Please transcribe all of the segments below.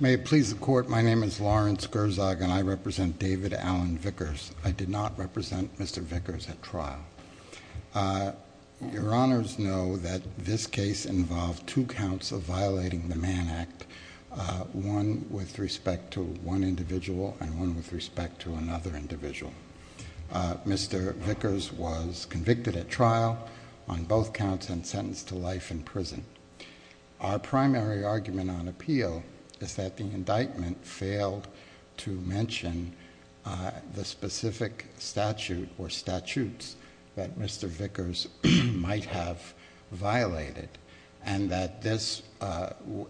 May it please the Court, my name is Lawrence Gerzog and I represent David Allen Vickers. I did not represent Mr. Vickers at trial. Your Honors know that this case involved two counts of violating the Mann Act, one with respect to one individual and one with respect to another individual. Mr. Vickers was convicted at trial on both counts and sentenced to life in prison. Our primary argument on appeal is that the indictment failed to mention the specific statute or statutes that Mr. Vickers might have violated and that this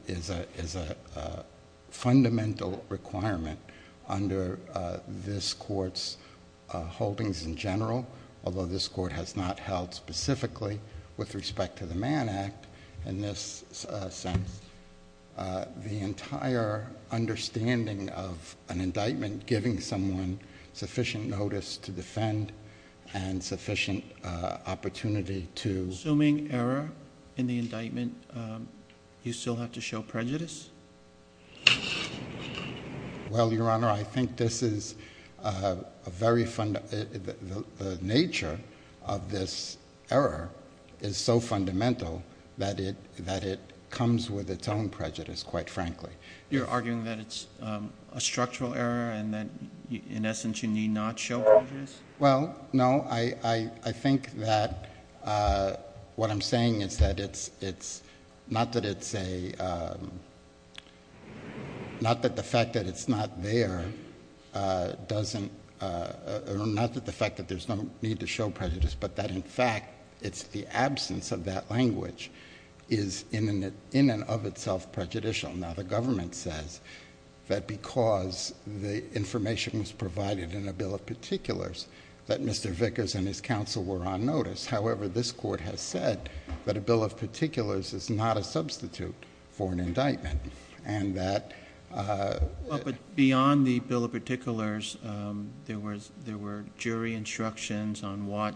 is a fundamental requirement under this Court's holdings in general, although this Court has not held specifically with respect to the Mann Act in this sense, the entire understanding of an indictment giving someone sufficient notice to defend and sufficient opportunity to... Assuming error in the indictment, you still have to show prejudice? Well, Your Honor, I think this is a very... the nature of this error is so fundamental that it comes with its own prejudice, quite frankly. You're arguing that it's a structural error and that, in essence, you need not show prejudice? Well, no. I think that what I'm saying is that it's... not that it's a... not that the fact that it's not there doesn't... or not that the fact that there's no need to show prejudice, but that, in fact, it's the absence of that language is in and of itself prejudicial. Now, the government says that because the information was provided in a Bill of Particulars that Mr. Vickers and his counsel were on notice. However, this Court has said that a Bill of Particulars is not a substitute for an indictment and that... Well, but beyond the Bill of Particulars, there were jury instructions on what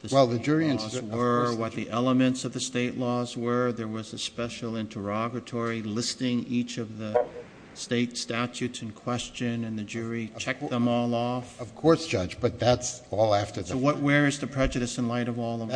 the state laws were, what the elements of the state laws were. There was a special interrogatory listing each of the state statutes in question and the jury checked them all off. Of course, Judge, but that's all after the fact. So where is the prejudice in light of all the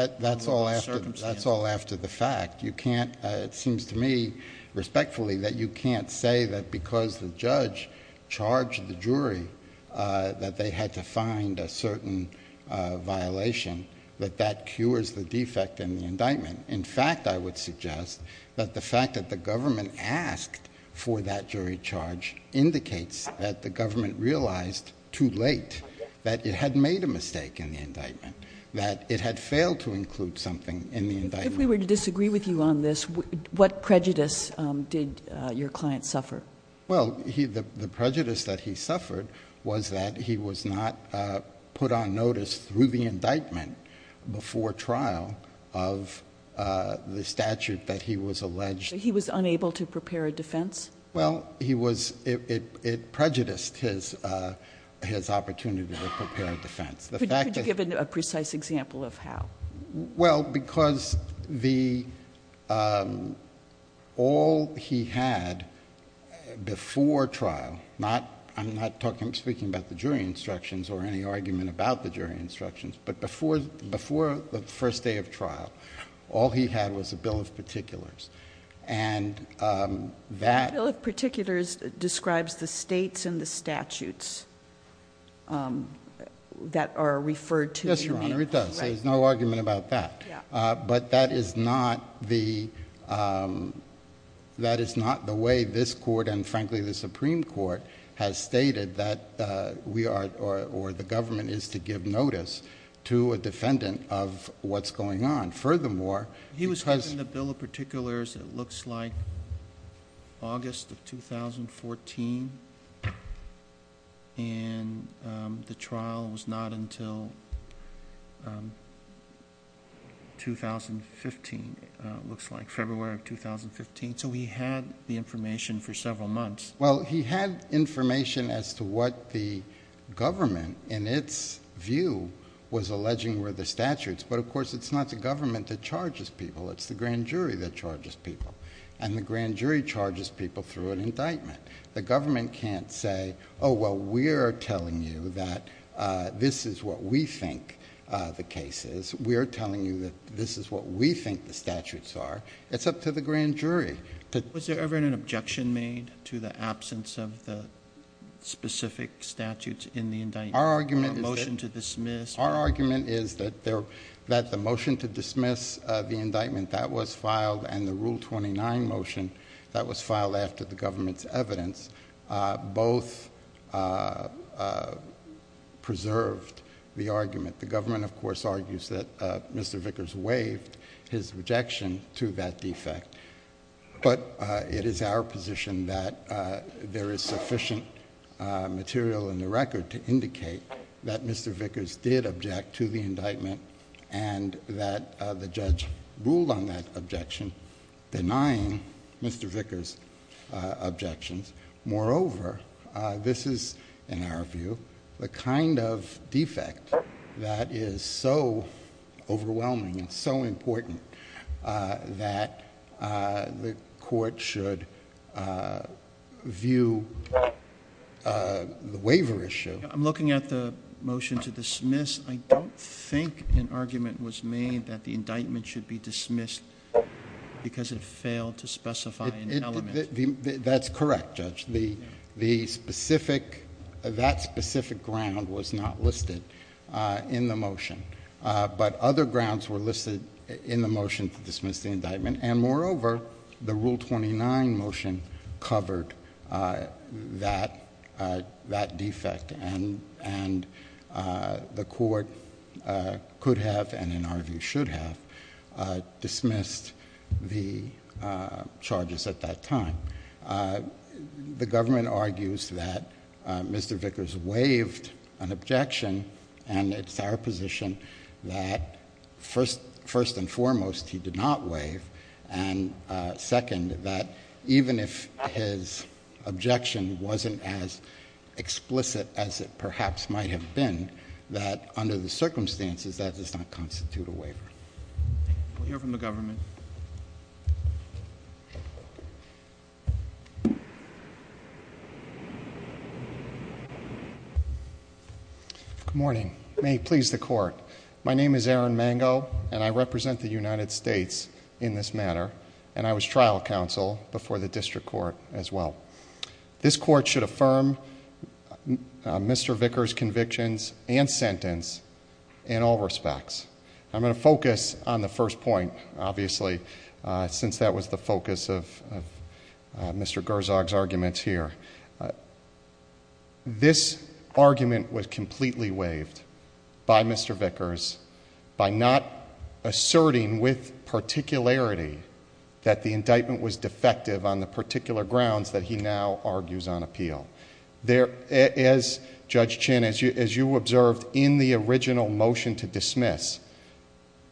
circumstances? That's all after the fact. You can't... it seems to me, respectfully, that you can't say that because the judge charged the jury that they had to find a certain violation, that that cures the defect in the indictment. In fact, I would suggest that the fact that the government asked for that jury charge indicates that the government realized too late that it had made a mistake in the indictment, that it had failed to include something in the indictment. If we were to disagree with you on this, what prejudice did your client suffer? Well, the prejudice that he suffered was that he was not put on notice through the indictment before trial of the statute that he was alleged... He was unable to prepare a defense? Well, he was... it prejudiced his opportunity to prepare a defense. Could you give a precise example of how? Well, because the... all he had before trial, I'm not speaking about the jury instructions or any argument about the jury instructions, but before the first day of trial, all he had was a bill of particulars, and that... A bill of particulars describes the states and the statutes that are referred to... Yes, Your Honor, it does. Right. So there's no argument about that. Yeah. But that is not the... that is not the way this court and, frankly, the Supreme Court has stated that we are... or the government is to give notice to a defendant of what's going on. Furthermore, because... He was given the bill of particulars, it looks like, August of 2014, and the trial was not until 2015, it looks like, February of 2015, so he had the information for several months. Well, he had information as to what the government, in its view, was alleging were the statutes, but, of course, it's not the government that charges people. It's the grand jury that charges people, and the grand jury charges people through an indictment. The government can't say, oh, well, we are telling you that this is what we think the case is. We are telling you that this is what we think the statutes are. It's up to the grand jury to... Was there ever an objection made to the absence of the specific statutes in the indictment? Our argument is that... A motion to dismiss... Our argument is that the motion to dismiss the indictment that was filed and the Rule 29 motion that was filed after the government's evidence both preserved the argument. The government, of course, argues that Mr. Vickers waived his rejection to that defect, but it is our position that there is sufficient material in the record to indicate that Mr. Vickers did object to the indictment and that the judge ruled on that objection, denying Mr. Vickers' objections. Moreover, this is, in our view, the kind of defect that is so overwhelming and so important that the court should view the waiver issue. I'm looking at the motion to dismiss. I don't think an argument was made that the indictment should be dismissed because it failed to specify an element. That's correct, Judge. That specific ground was not listed in the motion, but other grounds were listed in the motion to dismiss the indictment, and moreover, the Rule 29 motion covered that defect, and the court could have and, in our view, should have dismissed the charges at that time. The government argues that Mr. Vickers waived an objection, and it's our position that first and foremost, he did not waive, and second, that even if his objection wasn't as explicit as it perhaps might have been, that under the circumstances, that does not constitute a waiver. We'll hear from the government. Good morning. May it please the Court. My name is Aaron Mango, and I represent the United States in this matter, and I was trial counsel before the district court as well. This court should affirm Mr. Vickers' convictions and sentence in all respects. I'm going to focus on the first point, obviously, since that was the focus of Mr. Gerzog's arguments here. This argument was completely waived by Mr. Vickers by not asserting with particularity that the indictment was defective on the particular grounds that he now argues on appeal. As Judge Chin, as you observed in the original motion to dismiss,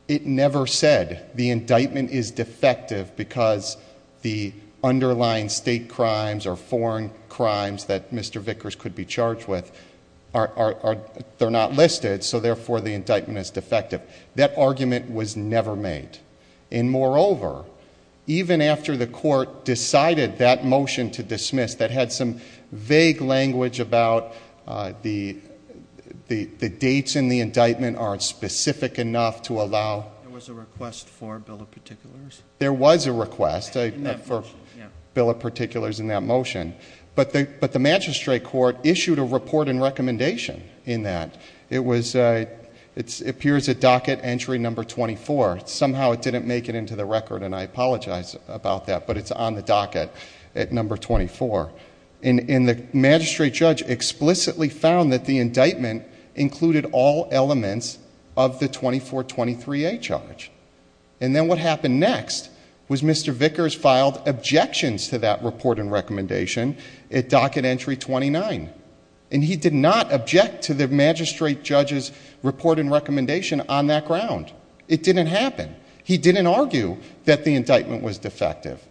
it never said the indictment is defective because the underlying state crimes or foreign crimes that Mr. Vickers could be charged with, they're not listed, so therefore, the indictment is defective. That argument was never made, and moreover, even after the court decided that motion to dismiss that had some vague language about the dates in the indictment aren't specific enough to allow... There was a request for a bill of particulars? There was a request for a bill of particulars in that motion, but the magistrate court issued a report and recommendation in that. It appears at docket entry number 24. Somehow it didn't make it into the record, and I apologize about that, but it's on the docket at number 24, and the magistrate judge explicitly found that the indictment included all elements of the 2423A charge, and then what happened next was Mr. Vickers filed objections to that report and recommendation at docket entry 29, and he did not object to the magistrate judge's report and recommendation on that ground. It didn't happen. He didn't argue that the indictment was defective.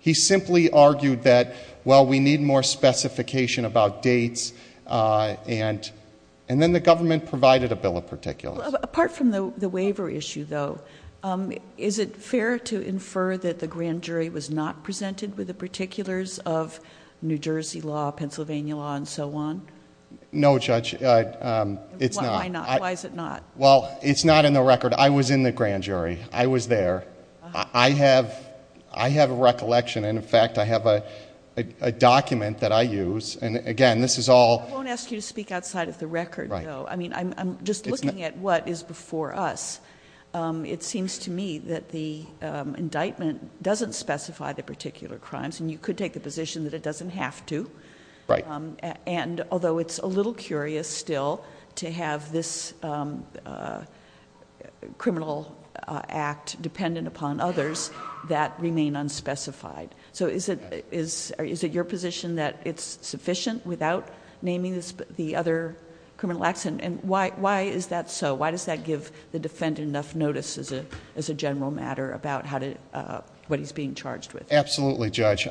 He simply argued that, well, we need more specification about dates, and then the government provided a bill of particulars. Apart from the waiver issue, though, is it fair to infer that the grand jury was not presented with the particulars of New Jersey law, Pennsylvania law, and so on? No, Judge. It's not. Why not? Why is it not? Well, it's not in the record. I was in the grand jury. I was there. I have a recollection, and in fact, I have a document that I use, and again, this is all... I won't ask you to speak outside of the record, though. I'm just looking at what is before us. It seems to me that the indictment doesn't specify the particular crimes, and you could take the position that it doesn't have to, although it's a little curious still to have this criminal act dependent upon others that remain unspecified. Is it your position that it's sufficient without naming the other criminal acts, and why is that so? Why does that give the defendant enough notice as a general matter about what he's being charged with? Absolutely, Judge.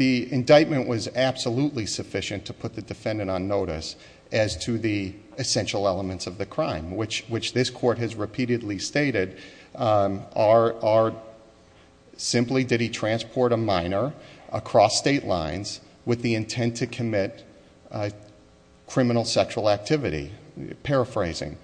The indictment was absolutely sufficient to put the defendant on notice as to the essential minor across state lines with the intent to commit criminal sexual activity, paraphrasing.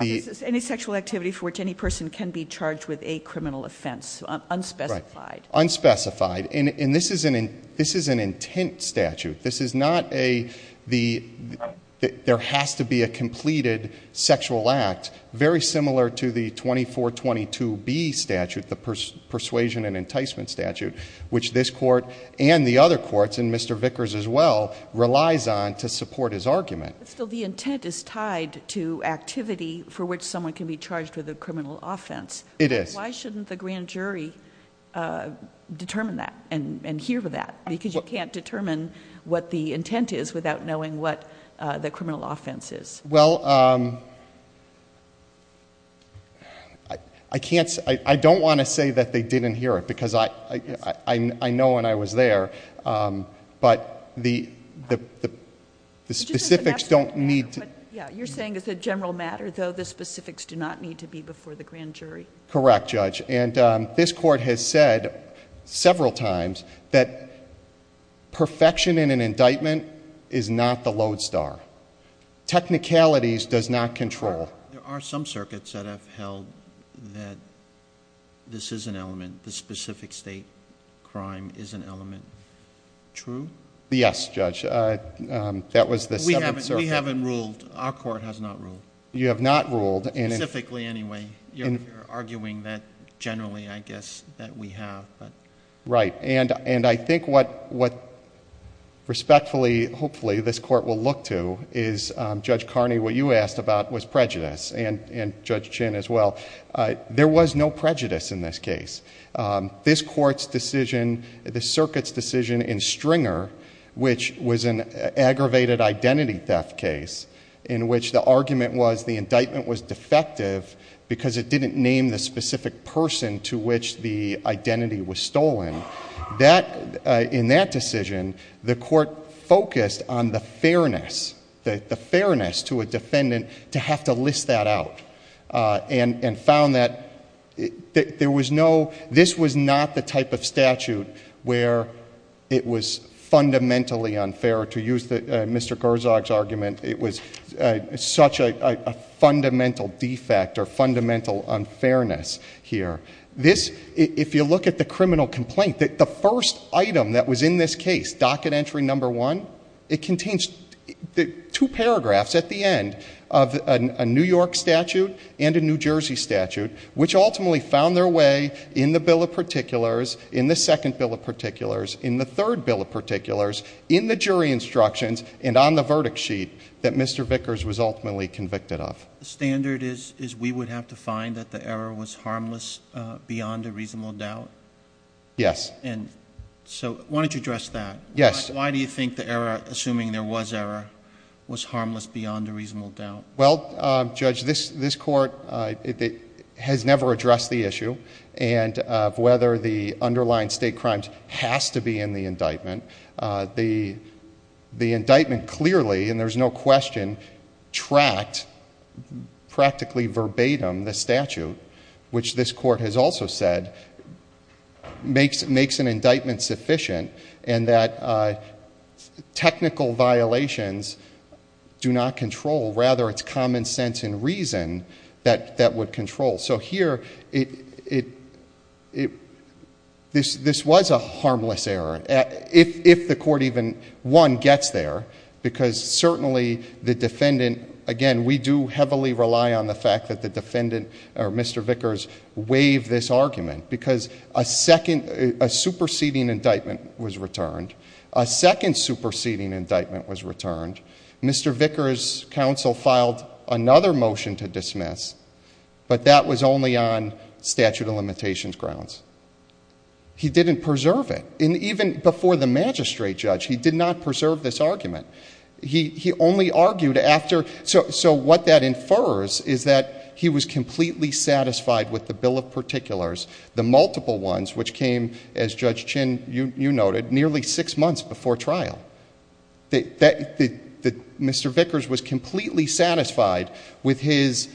Any sexual activity for which any person can be charged with a criminal offense, unspecified. Right, unspecified, and this is an intent statute. This is not a... there has to be a completed sexual act very similar to the 2422B statute, the persuasion and enticement statute, which this court and the other courts, and Mr. Vickers as well, relies on to support his argument. But still, the intent is tied to activity for which someone can be charged with a criminal offense. It is. Why shouldn't the grand jury determine that and hear that? Because you can't determine what the intent is without knowing what the criminal offense is. Well, I can't... I don't want to say that they didn't hear it, because I know when I was there, but the specifics don't need to... Yeah, you're saying it's a general matter, though the specifics do not need to be before the grand jury. Correct, Judge. And this court has said several times that perfection in an indictment is not the lodestar. Technicalities does not control... There are some circuits that have held that this is an element, the specific state crime is an element. True? Yes, Judge. That was the seventh circuit. We haven't ruled. Our court has not ruled. You have not ruled. Specifically, anyway. You're arguing that generally, I guess, that we have. Right. And I think what respectfully, hopefully, this court will look to is, Judge Carney, what you asked about was prejudice, and Judge Chin as well. There was no prejudice in this case. This court's decision, the circuit's decision in Stringer, which was an aggravated identity theft case, in which the argument was the indictment was defective because it didn't name the specific person to which the identity was stolen. In that decision, the court focused on the fairness, the fairness to a defendant to have to list that out, and found that this was not the type of statute where it was fundamentally And it was such a fundamental defect or fundamental unfairness here. If you look at the criminal complaint, the first item that was in this case, docket entry number one, it contains two paragraphs at the end of a New York statute and a New Jersey statute, which ultimately found their way in the bill of particulars, in the second bill of particulars, in the third bill of particulars, in the jury instructions, and on the verdict sheet that Mr. Vickers was ultimately convicted of. The standard is we would have to find that the error was harmless beyond a reasonable doubt? Yes. And so why don't you address that? Yes. Why do you think the error, assuming there was error, was harmless beyond a reasonable doubt? Well, Judge, this court has never addressed the issue of whether the underlying state crimes has to be in the indictment. The indictment clearly, and there's no question, tracked practically verbatim the statute, which this court has also said makes an indictment sufficient, and that technical violations do not control. Rather, it's common sense and reason that would control. So here, this was a harmless error. If the court even, one, gets there, because certainly the defendant, again, we do heavily rely on the fact that the defendant, or Mr. Vickers, waived this argument, because a superseding indictment was returned, a second superseding indictment was returned, Mr. Vickers' counsel filed another motion to dismiss, but that was only on statute of limitations grounds. He didn't preserve it. And even before the magistrate judge, he did not preserve this argument. He only argued after, so what that infers is that he was completely satisfied with the bill of particulars, the multiple ones, which came, as Judge Chin, you noted, nearly six months before trial. Mr. Vickers was completely satisfied with his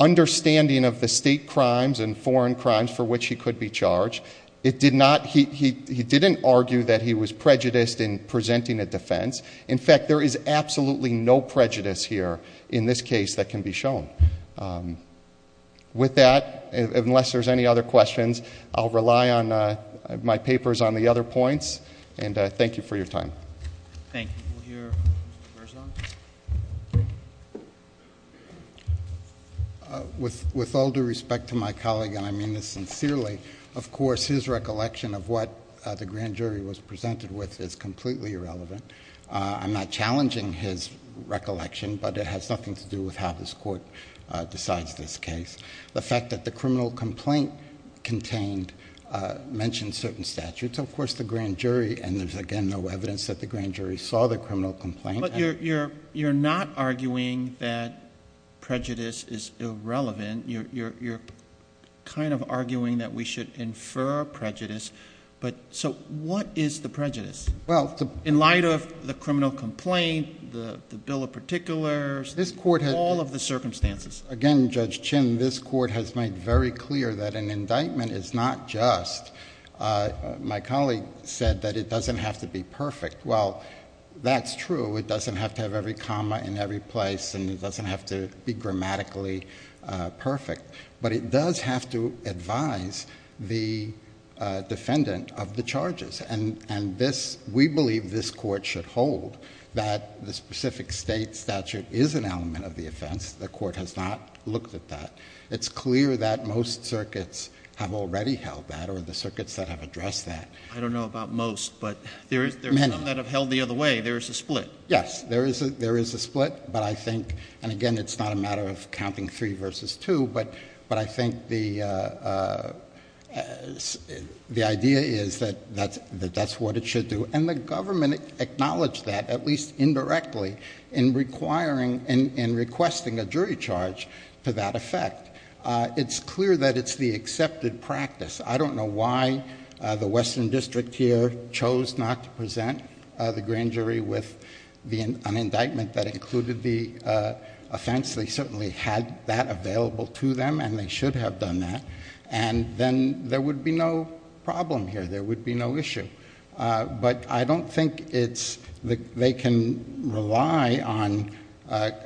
understanding of the state crimes and the extent to which they could be charged. He didn't argue that he was prejudiced in presenting a defense. In fact, there is absolutely no prejudice here in this case that can be shown. With that, unless there's any other questions, I'll rely on my papers on the other points, and thank you for your time. Thank you. We'll hear from Mr. Berzon. With all due respect to my colleague, and I mean this sincerely, of course, his recollection of what the grand jury was presented with is completely irrelevant. I'm not challenging his recollection, but it has nothing to do with how this Court decides this case. The fact that the criminal complaint contained mentioned certain statutes, of course, the grand jury saw the criminal complaint. You're not arguing that prejudice is irrelevant. You're kind of arguing that we should infer prejudice, but so what is the prejudice? In light of the criminal complaint, the bill of particulars, all of the circumstances. Again, Judge Chin, this Court has made very clear that an indictment is not just, my colleague said that it doesn't have to be perfect. Well, that's true. It doesn't have to have every comma in every place, and it doesn't have to be grammatically perfect, but it does have to advise the defendant of the charges, and this, we believe this Court should hold that the specific state statute is an element of the offense. The Court has not looked at that. It's clear that most circuits have already held that, or the circuits that have addressed that. I don't know about most, but there's some that have held the other way. There's a split. Yes. There is a split, but I think, and again, it's not a matter of counting three versus two, but I think the idea is that that's what it should do, and the government acknowledged that, at least indirectly, in requiring and requesting a jury charge to that effect. It's clear that it's the accepted practice. I don't know why the Western District here chose not to present the grand jury with an indictment that included the offense. They certainly had that available to them, and they should have done that, and then, there would be no problem here. There would be no issue, but I don't think it's... they can rely on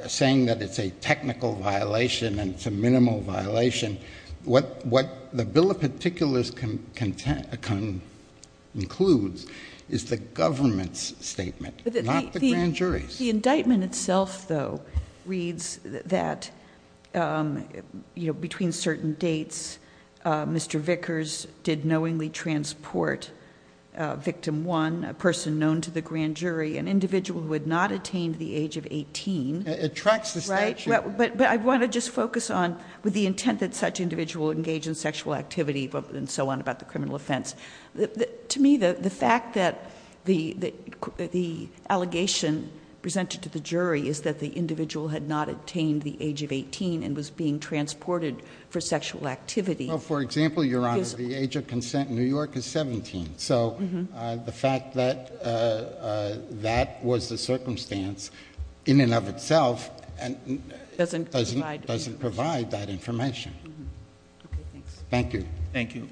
saying that it's a technical violation and it's a minimal violation. What the Bill of Particulars concludes is the government's statement, not the grand jury's. The indictment itself, though, reads that between certain dates, Mr. Vickers did knowingly transport victim one, a person known to the grand jury, an individual who had not attained the age of 18. It tracks the statute. But I want to just focus on, with the intent that such individual engage in sexual activity and so on about the criminal offense, to me, the fact that the allegation presented to the jury is that the individual had not attained the age of 18 and was being transported for sexual activity... Well, for example, Your Honor, the age of consent in New York is 17, so the fact that that was the circumstance in and of itself... Doesn't provide... Doesn't provide that information. Okay, thanks. Thank you. Thank you.